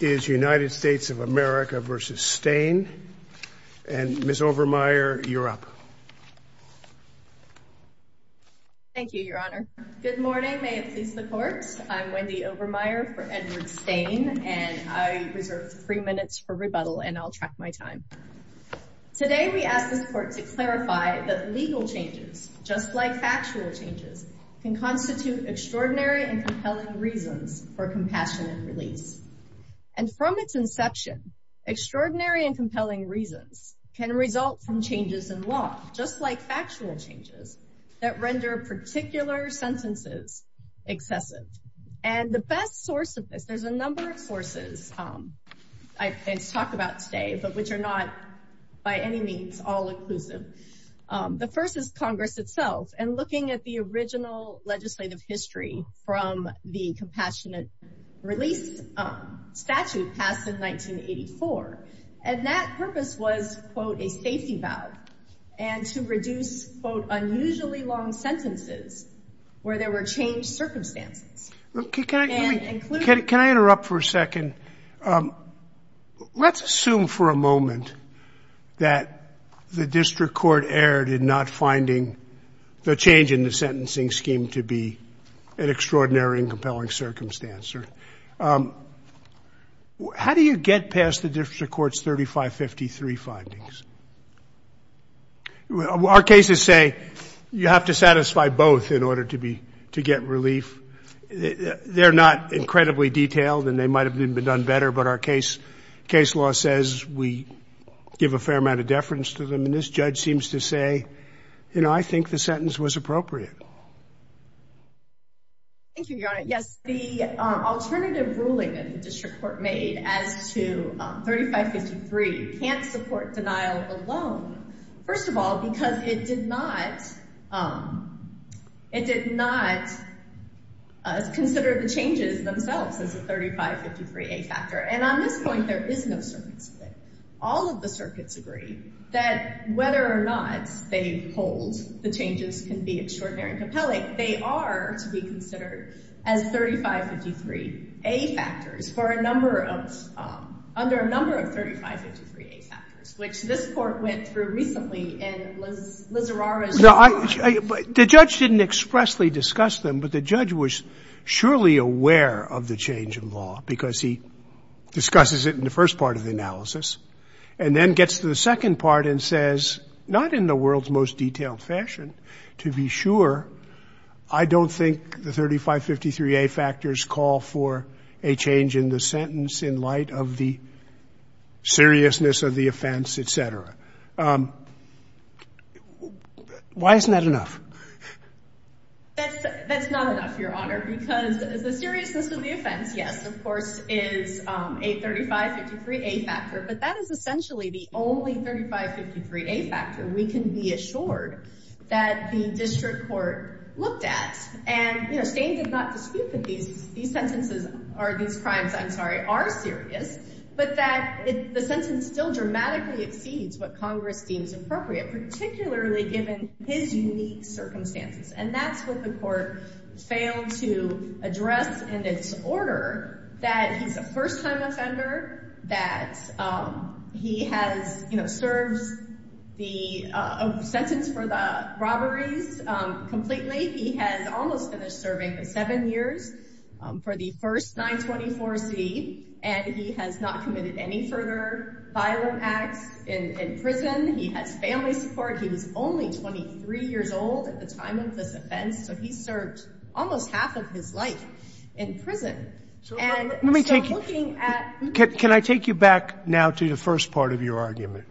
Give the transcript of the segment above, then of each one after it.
is United States of America versus Stain and Ms. Overmeyer you're up. Thank you your honor. Good morning may it please the court I'm Wendy Overmeyer for Edward Stain and I reserve three minutes for rebuttal and I'll track my time. Today we ask this court to clarify that legal changes just like factual changes can and from its inception extraordinary and compelling reasons can result from changes in law just like factual changes that render particular sentences excessive and the best source of this there's a number of sources it's talked about today but which are not by any means all-inclusive. The first is Congress itself and looking at the original legislative history from the statute passed in 1984 and that purpose was quote a safety valve and to reduce quote unusually long sentences where there were changed circumstances. Can I interrupt for a second? Let's assume for a moment that the district court erred in not finding the change in the sentencing scheme to be an extraordinary and compelling circumstance. How do you get past the district court's 3553 findings? Well our cases say you have to satisfy both in order to be to get relief. They're not incredibly detailed and they might have been done better but our case case law says we give a fair amount of deference to them and this judge seems to say you know I think the sentence was appropriate. Thank you Your Honor. Yes the alternative ruling in the district court made as to 3553 can't support denial alone. First of all because it did not it did not consider the changes themselves as a 3553 a factor and on this point there is no circuit split. All of the circuits agree that whether or not they hold the compelling they are to be considered as 3553 a factors for a number of under a number of 3553 a factors which this court went through recently and Liz Lizarrara's The judge didn't expressly discuss them but the judge was surely aware of the change in law because he discusses it in the first part of the analysis and then gets to the second part and says not in the world's most detailed fashion to be sure. I don't think the 3553 a factors call for a change in the sentence in light of the seriousness of the offense etc. Why isn't that enough? That's not enough Your Honor because the seriousness of the offense yes of course is a 3553 a factor but that is essentially the only 3553 a factor. We can be assured that the district court looked at and you know Steyn did not dispute that these these sentences are these crimes I'm sorry are serious but that the sentence still dramatically exceeds what Congress deems appropriate particularly given his unique circumstances and that's what the court failed to address in its order that he's a first-time offender that he has you know serves the sentence for the robberies completely he has almost finished serving the seven years for the first 924 C and he has not committed any further violent acts in prison he has family support he was only 23 years old at the time of this offense so he served almost half of his life in prison. Can I take you back now to the first part of your argument.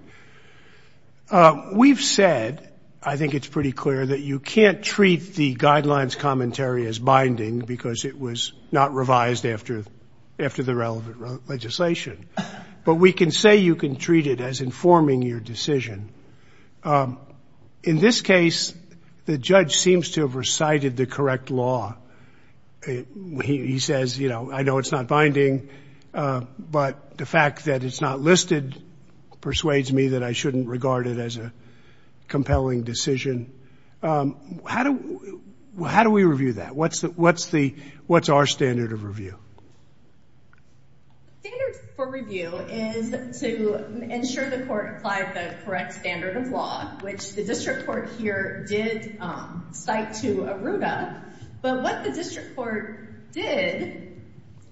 We've said I think it's pretty clear that you can't treat the guidelines commentary as binding because it was not revised after after the relevant legislation but we can say you can treat it as informing your decision. In this case the judge seems to have recited the correct law he says you know I know it's not binding but the fact that it's not listed persuades me that I shouldn't regard it as a compelling decision. How do how do we review that what's that what's the what's our standard of review? The standard for review is to ensure the court applied the correct standard of law which the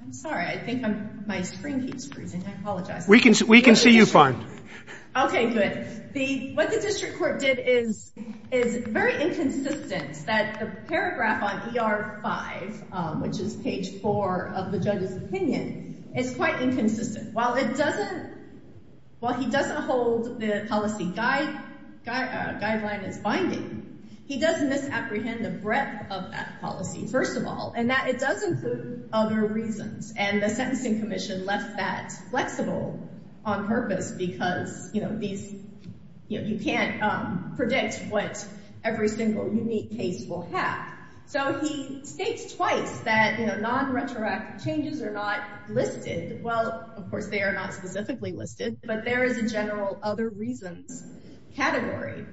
I'm sorry I think my screen keeps freezing I apologize. We can see we can see you fine. Okay good the what the district court did is is very inconsistent that the paragraph on ER 5 which is page 4 of the judge's opinion is quite inconsistent while it doesn't well he doesn't hold the policy guide guideline as binding he doesn't misapprehend the breadth of that policy first of all and that it does include other reasons and the Sentencing Commission left that flexible on purpose because you know these you know you can't predict what every single unique case will have so he states twice that you know non-retroactive changes are not listed well of course they are not specifically listed but there is a general other reasons category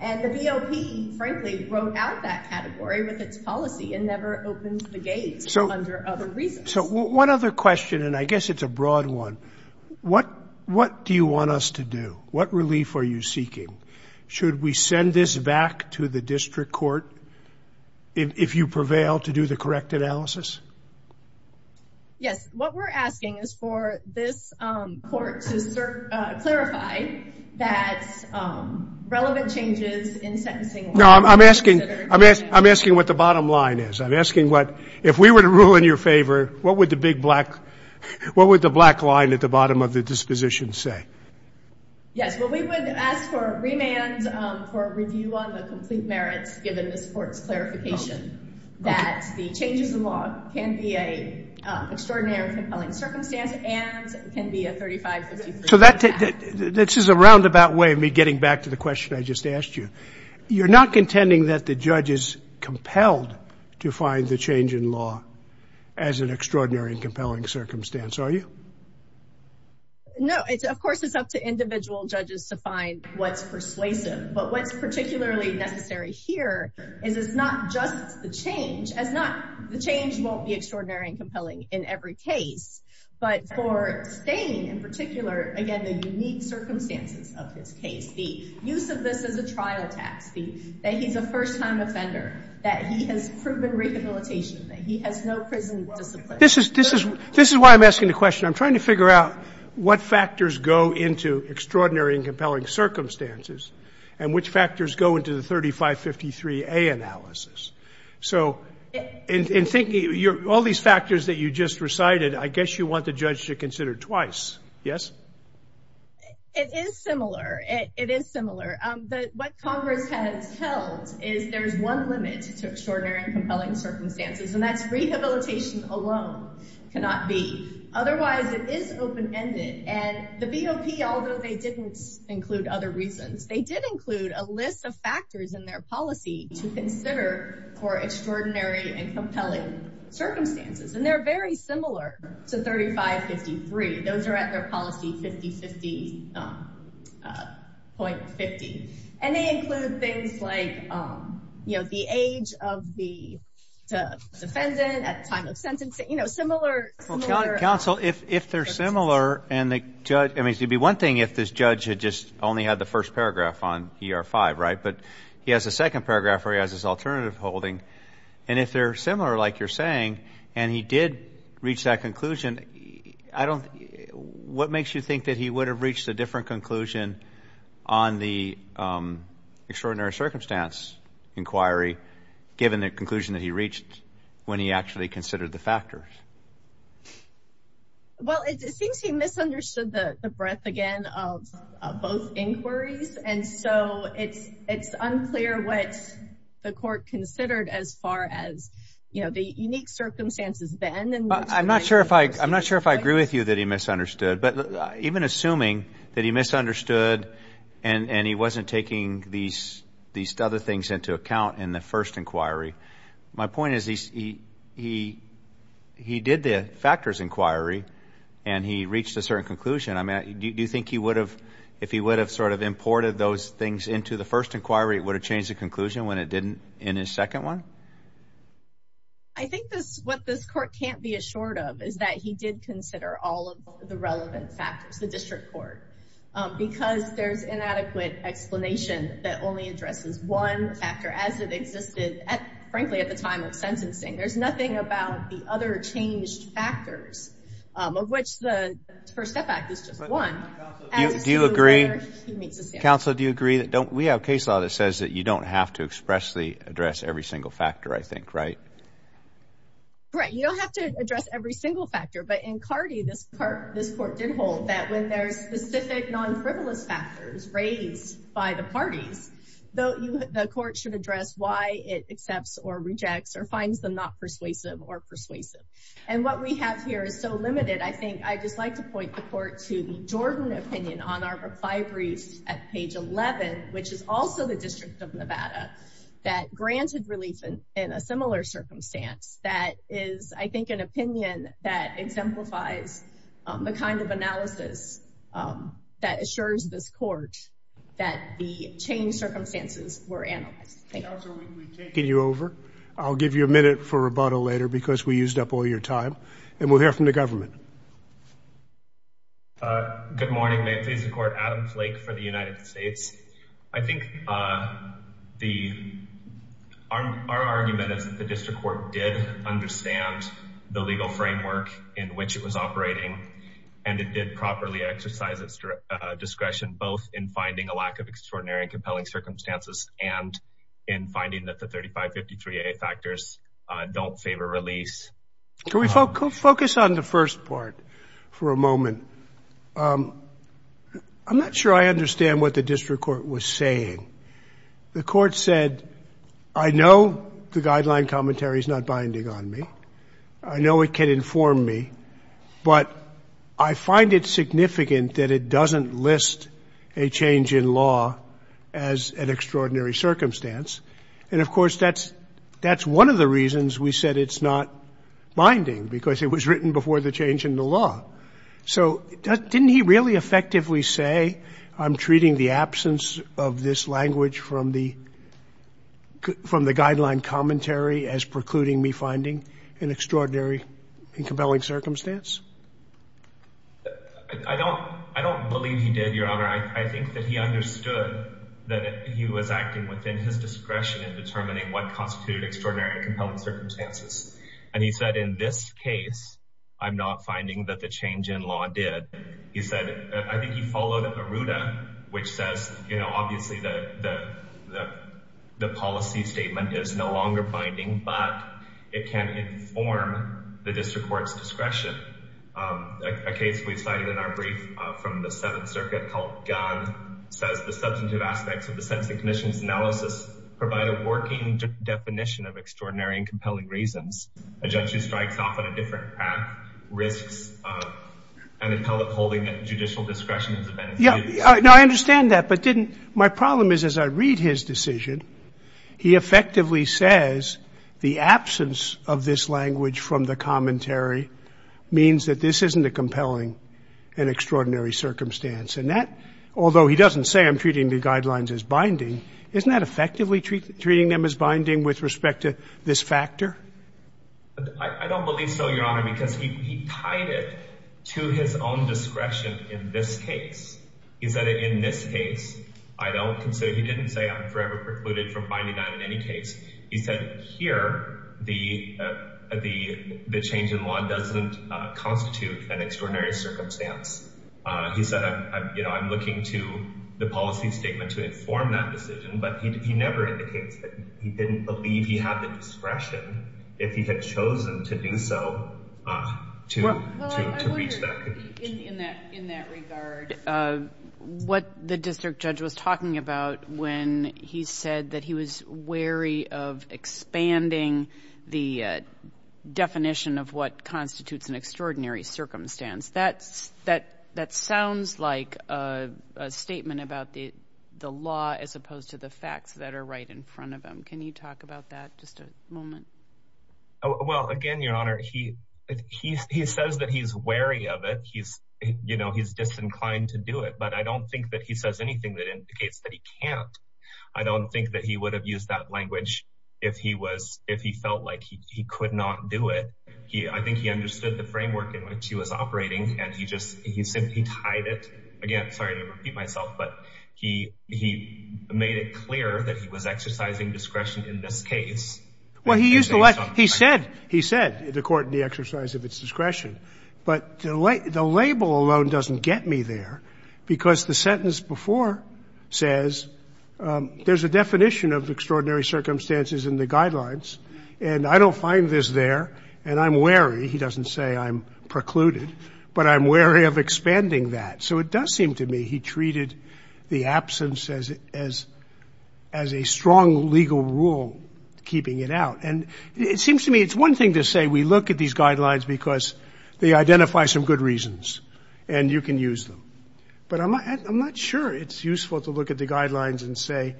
and the BOP frankly wrote out that category with So one other question and I guess it's a broad one what what do you want us to do? What relief are you seeking? Should we send this back to the district court if you prevail to do the correct analysis? Yes what we're asking is for this court to clarify that relevant changes in sentencing... No I'm asking I'm asking what the bottom line is I'm asking what if we were to rule in your favor what would the big black what would the black line at the bottom of the disposition say? Yes well we would ask for a remand for a review on the complete merits given this court's clarification that the changes in law can be a extraordinary compelling So that this is a roundabout way of me getting back to the question I just asked you you're not contending that the judge is compelled to find the change in law as an extraordinary and compelling circumstance are you? No it's of course it's up to individual judges to find what's persuasive but what's particularly necessary here is it's not just the change as not the change won't be extraordinary and compelling in every case but for Staney in particular again the unique circumstances of his case the use of this as a trial tax fee that he's a first-time offender that he has proven rehabilitation that he has no prison discipline. This is this is this is why I'm asking the question I'm trying to figure out what factors go into extraordinary and compelling circumstances and which factors go into the 3553A analysis so in thinking all these factors that you just recited I guess you want the judge to consider twice yes? It is similar it is similar but what Congress has held is there's one limit to extraordinary and compelling circumstances and that's rehabilitation alone cannot be otherwise it is open-ended and the BOP although they didn't include other reasons they did include a list of factors in their policy to consider for extraordinary and compelling circumstances and they're very similar to 3553 those are at their policy 50 50 point 50 and they include things like you know the age of the defendant at time of sentencing you know similar counsel if if they're similar and the judge I mean to be one thing if this judge had just only had the first paragraph on ER 5 right but he has a second paragraph where he has this alternative holding and if they're similar like you're saying and he did reach that conclusion I don't what makes you think that he would have reached a different conclusion on the extraordinary circumstance inquiry given the conclusion that he reached when he actually considered the factors? Well it seems he misunderstood the breadth again of both inquiries and so it's it's unclear what the court considered as far as you know the unique circumstances then and I'm not sure if I I'm not sure if I agree with you that he misunderstood but even assuming that he misunderstood and and he wasn't taking these these other things into account in the first inquiry my point is he he he did the factors inquiry and he reached a different conclusion I mean do you think he would have if he would have sort of imported those things into the first inquiry it would have changed the conclusion when it didn't in his second one? I think this what this court can't be assured of is that he did consider all of the relevant factors the district court because there's inadequate explanation that only addresses one factor as it existed at frankly at the time of sentencing there's nothing about the other changed factors of which the First Step Act is just one. Do you agree counsel do you agree that don't we have case law that says that you don't have to expressly address every single factor I think right? Right you don't have to address every single factor but in Cardi this part this court did hold that when there's specific non-frivolous factors raised by the parties though the court should address why it accepts or rejects or finds them not persuasive or persuasive and what we have here is so limited I think I just like to point the court to the Jordan opinion on our reply briefs at page 11 which is also the District of Nevada that granted relief in a similar circumstance that is I think an opinion that exemplifies the kind of analysis that assures this court that the change circumstances were analyzed. Counsel we've taken you over I'll give you a minute for this to be used up all your time and we'll hear from the government. Good morning, May it please the court, Adam Flake for the United States. I think our argument is that the district court did understand the legal framework in which it was operating and it did properly exercise its discretion both in finding a lack of extraordinary and compelling circumstances and in finding that the 3553A factors don't favor release. Can we focus on the first part for a moment I'm not sure I understand what the district court was saying the court said I know the guideline commentary is not binding on me I know it can inform me but I find it significant that it doesn't list a change in law as an extraordinary circumstance and of course that's that's one of the reasons we said it's not binding because it was written before the change in the law so didn't he really effectively say I'm treating the absence of this language from the from the guideline commentary as precluding me finding an extraordinary and compelling circumstance I don't I don't believe he did your honor I think that he understood that he was acting within his discretion in determining what constituted extraordinary and compelling circumstances and he said in this case I'm not finding that the change in law did he said I think he followed a ruda which says you know obviously the the policy statement is no longer binding but it can inform the district courts discretion a case we cited in our brief from the seventh circuit called gun says the substantive aspects of the sense the commission's analysis provided working definition of extraordinary and compelling reasons a judge who strikes off on a different path risks an appellate holding a judicial discretion yeah I know I understand that but didn't my problem is as I read his decision he effectively says the absence of this language from the commentary means that this isn't a compelling and extraordinary circumstance and that although he doesn't say I'm treating the guidelines as binding isn't that effectively treat treating them as binding with respect to this factor I don't believe so your honor because he tied it to his own discretion in this case is that in this case I don't consider he didn't say I'm forever precluded from finding out in any case he said here the the the change doesn't constitute an extraordinary circumstance he said you know I'm looking to the policy statement to inform that decision but he never in the case but he didn't believe he had the discretion if he had chosen to do so what the district judge was talking about when he said that he was wary of constitutes an extraordinary circumstance that's that that sounds like a statement about the the law as opposed to the facts that are right in front of them can you talk about that just a moment oh well again your honor he he says that he's wary of it he's you know he's disinclined to do it but I don't think that he says anything that indicates that he can't I don't think that he would have used that language if he was if he felt like he could not do it he I think he understood the framework in which he was operating and he just he simply tied it again sorry to repeat myself but he he made it clear that he was exercising discretion in this case well he used to like he said he said the court in the exercise of its discretion but delay the label alone doesn't get me there because the sentence before says there's a definition of extraordinary circumstances in the guidelines and I don't find this there and I'm wary he doesn't say I'm precluded but I'm wary of expanding that so it does seem to me he treated the absence as as as a strong legal rule keeping it out and it seems to me it's one thing to say we look at these guidelines because they identify some good reasons and you can use them but I might I'm not sure it's useful to look at the guidelines and say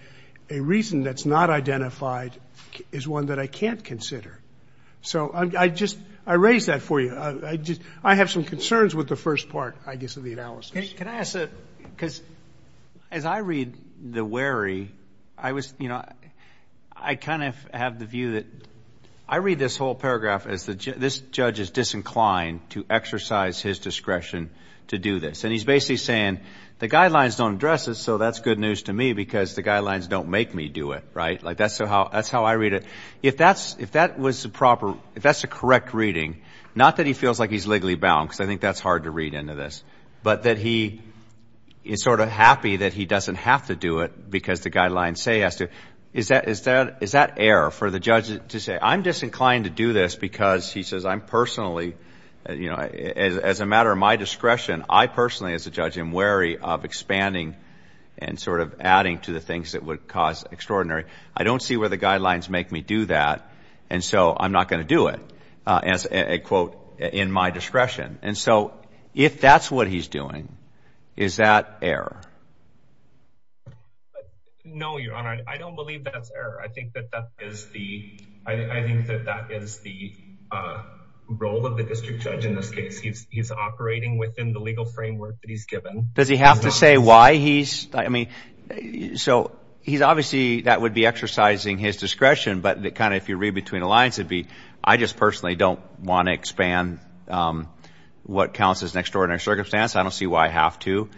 a reason that's not identified is one that I can't consider so I just I raised that for you I just I have some concerns with the first part I guess of the analysis can I say because as I read the wary I was you know I kind of have the view that I read this whole paragraph as the judge this judge is disinclined to exercise his discretion to do this and he's basically saying the guidelines don't address it so that's good news to me because the guidelines don't make me do it right like that's so how that's how I read it if that's if that was the proper if that's the correct reading not that he feels like he's legally bound because I think that's hard to read into this but that he is sort of happy that he doesn't have to do it because the guidelines say has to is that is that is that error for the judge to say I'm disinclined to do this because he says I'm personally you know as a matter of my discretion I personally as a judge am wary of expanding and sort of adding to the things that would cause extraordinary I don't see where the guidelines make me do that and so I'm not going to do it as a quote in my discretion and so if that's what he's doing is that air no your honor I don't believe that's error I think that that is the role of the district judge in this case he's operating within the legal framework that he's given does he have to say why he's I mean so he's obviously that would be exercising his discretion but that kind of if you read between the lines would be I just personally don't want to expand what counts as an extraordinary circumstance I don't see why I have to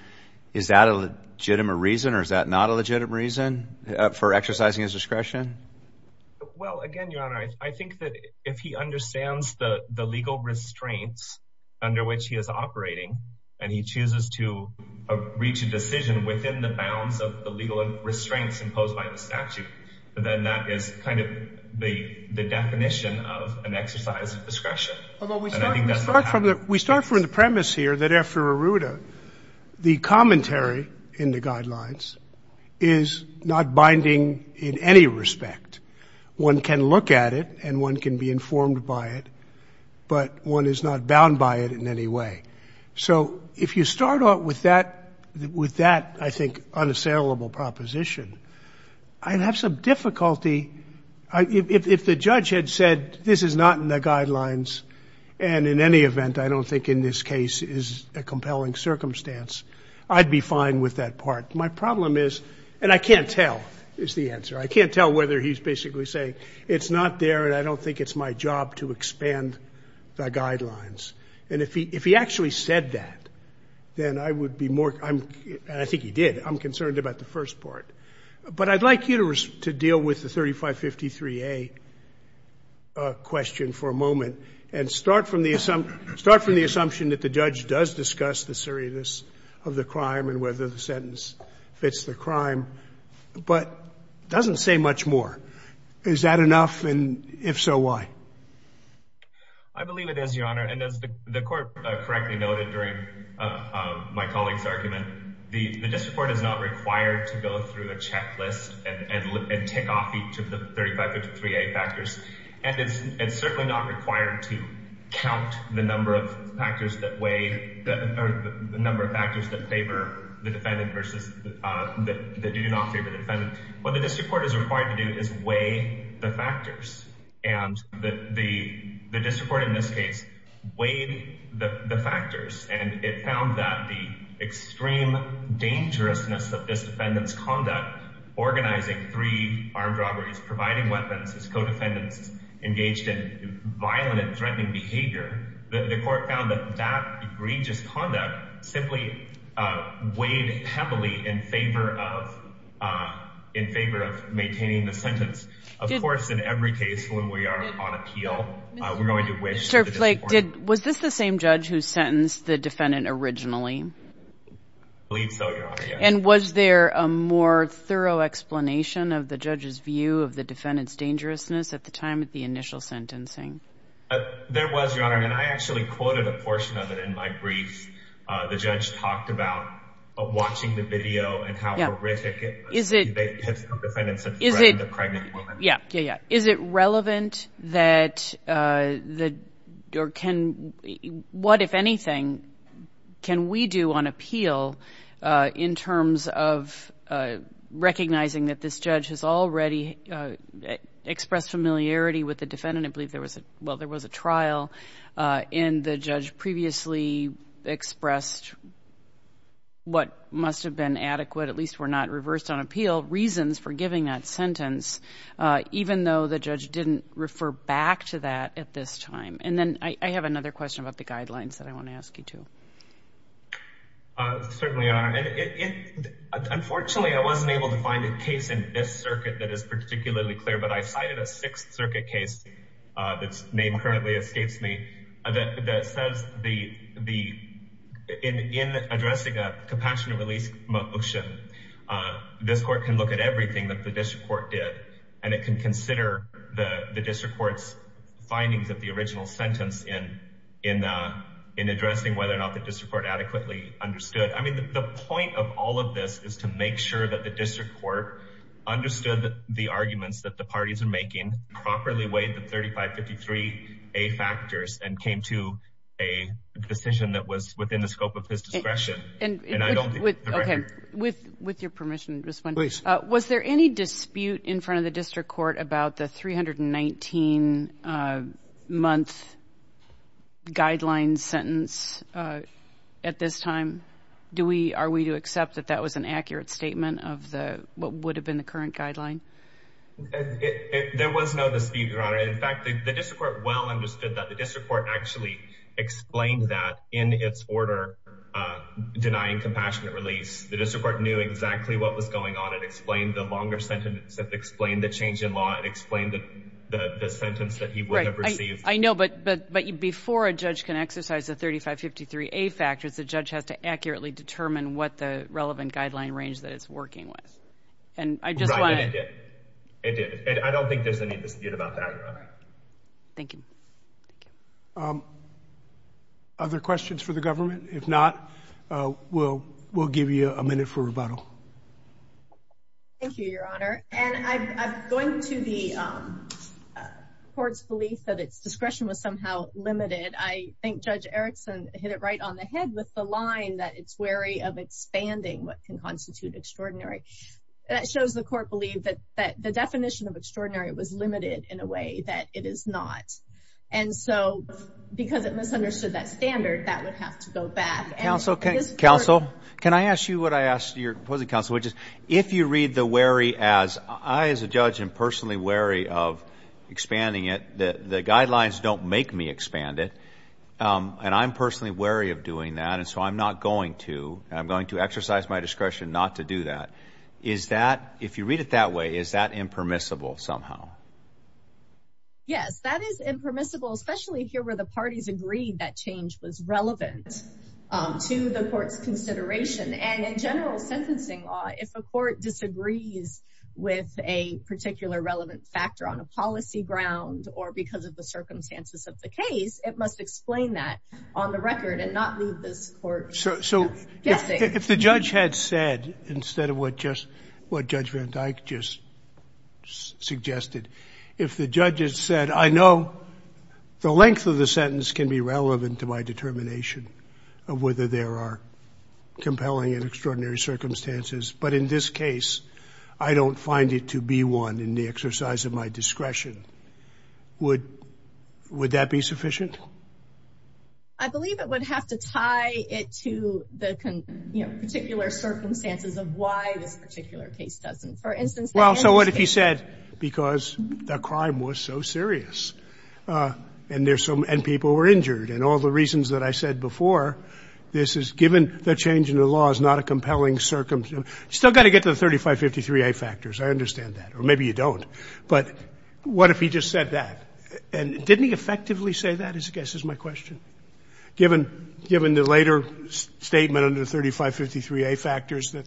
is that a legitimate reason or is that not a legitimate reason for exercising his discretion I think that if he understands the the legal restraints under which he is operating and he chooses to reach a decision within the statute but then that is kind of the the definition of an exercise of discretion although we start from that we start from the premise here that after Arruda the commentary in the guidelines is not binding in any respect one can look at it and one can be informed by it but one is not bound by it in any way so if you start off with that with that I think unassailable proposition I'd have some difficulty if the judge had said this is not in the guidelines and in any event I don't think in this case is a compelling circumstance I'd be fine with that part my problem is and I can't tell is the answer I can't tell whether he's basically saying it's not there and I don't think it's my job to expand the guidelines and if he if he actually said that then I would be more I'm I think he did I'm concerned about the first part but I'd like you to deal with the 3553 a question for a moment and start from the assumption start from the assumption that the judge does discuss the seriousness of the crime and whether the sentence fits the crime but doesn't say much more is that enough and if so why I believe it is your honor and as the my colleagues argument the the district court is not required to go through a checklist and take off each of the 3553 a factors and it's it's certainly not required to count the number of factors that way the number of factors that favor the defendant versus that they do not favor the defendant what the district court is required to do is weigh the factors and the the district court in this case weighed the factors and it found that the extreme dangerousness of this defendants conduct organizing three armed robberies providing weapons as co-defendants engaged in violent and threatening behavior the court found that that egregious conduct simply weighed heavily in favor of in favor of maintaining the sentence of course in every case when we are on appeal we're was this the same judge who sentenced the defendant originally and was there a more thorough explanation of the judge's view of the defendants dangerousness at the time at the initial sentencing there was your honor and I actually quoted a portion of it in my brief the judge talked about watching the video and how what if anything can we do on appeal in terms of recognizing that this judge has already expressed familiarity with the defendant I believe there was a well there was a trial in the judge previously expressed what must have been adequate at least were not reversed on appeal reasons for giving that sentence even though the judge didn't refer back to that at this time and then I have another question about the guidelines that I want to ask you to unfortunately I wasn't able to find a case in this circuit that is particularly clear but I cited a Sixth Circuit case that's name currently escapes me that says the the in addressing a compassionate release motion this court can look at everything and it can consider the district court's findings of the original sentence in in in addressing whether or not the district court adequately understood I mean the point of all of this is to make sure that the district court understood the arguments that the parties are making properly weighed the 3553 a factors and came to a decision that was within the scope of his discretion and with with your permission was there any dispute in front of the district court about the 319 month guidelines sentence at this time do we are we to accept that that was an accurate statement of the what would have been the current guideline there was no the speed runner in fact the district well understood that the district court actually explained that in its order denying compassionate release the district court knew exactly what was going on it explained the longer sentence that explained the change in law and explained the sentence that he would have received I know but but but you before a judge can exercise the 3553 a factors the judge has to accurately determine what the relevant guideline range that it's working with and I just wanted it I don't think there's any dispute about that thank you other questions for the government if not we'll we'll give you a minute for rebuttal thank you your honor and I'm going to the courts belief that its discretion was somehow limited I think judge Erickson hit it right on the head with the line that it's wary of expanding what can constitute extraordinary that shows the court believe that that the definition of extraordinary was limited in a way that it is not and so because it misunderstood that standard that would have to go back and also can counsel can I ask you what I asked your opposing counsel which is if you read the wary as I as a judge and personally wary of expanding it that the guidelines don't make me expand it and I'm personally wary of doing that and so I'm not going to I'm going to exercise my discretion not to do that is that if you read it that way is that impermissible somehow yes that is impermissible especially here where the parties agreed that change was relevant to the court's consideration and in general sentencing law if a court disagrees with a particular relevant factor on a policy ground or because of the circumstances of the case it must explain that on the record and not leave this court so if the judge had said instead of what just what judgment I just suggested if the judges said I know the length of the sentence can be relevant to my determination of whether there are compelling and extraordinary circumstances but in this case I don't find it to be one in the exercise of my discretion would would that be sufficient I believe it would have to tie it to the particular circumstances of why this particular case doesn't for instance well so what if you said because the crime was so serious and there's some and people were injured and all the reasons that I said before this is given the change in the law is not a compelling circumstance you still got to get to the 3553 a factors I understand that or maybe you don't but what if he just said that and didn't he effectively say that I guess is my question given given the later statement under 3553 a factors that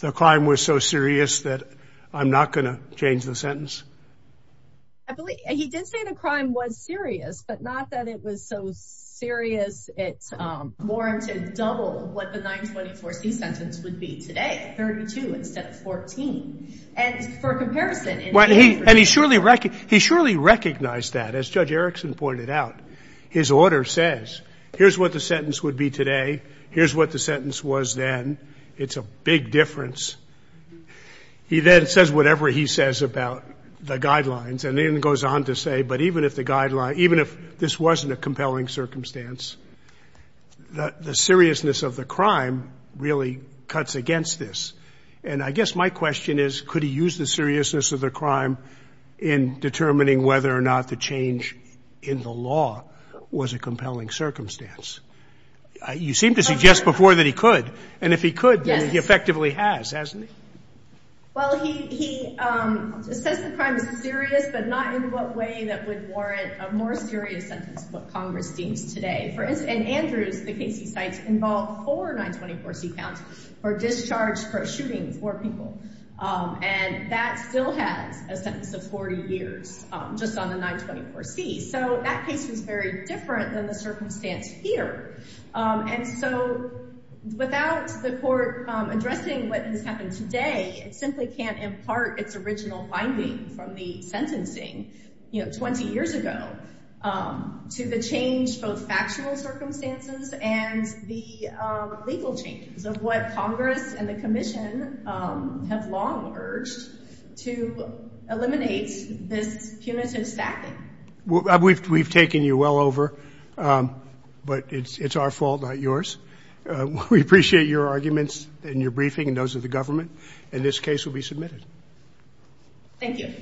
the crime was so serious that I'm not going to change the sentence he did say the crime was serious but not that it was so serious it's warranted double what the 924 C sentence would be today 32 instead of 14 and for comparison what he and he surely wrecked he surely recognized that as judge Erickson pointed out his order says here's what the sentence would be today here's what the sentence was then it's a big difference he then says whatever he says about the guidelines and then goes on to say but even if the guideline even if this wasn't a compelling circumstance the seriousness of the crime really cuts against this and I guess my question is could he use the seriousness of the crime in determining whether or not the change in the law was a compelling circumstance you seem to suggest before that he could and if he could then he effectively has hasn't he well he says the crime is serious but not in what way that would warrant a more serious sentence what Congress deems today for us and Andrews the case he cites involved for 924 C counts or discharged for shootings more people and that still has a sentence of 40 years just on the 924 C so that case was very different than the circumstance here and so without the court addressing what has happened today it simply can't impart its original finding from the sentencing you know 20 years ago to the change both factual circumstances and the legal changes of what Congress and the Commission have long urged to eliminate this punitive stacking well we've taken you well over but it's it's our fault not yours we appreciate your arguments and your briefing and those of the government and this case will be submitted thank you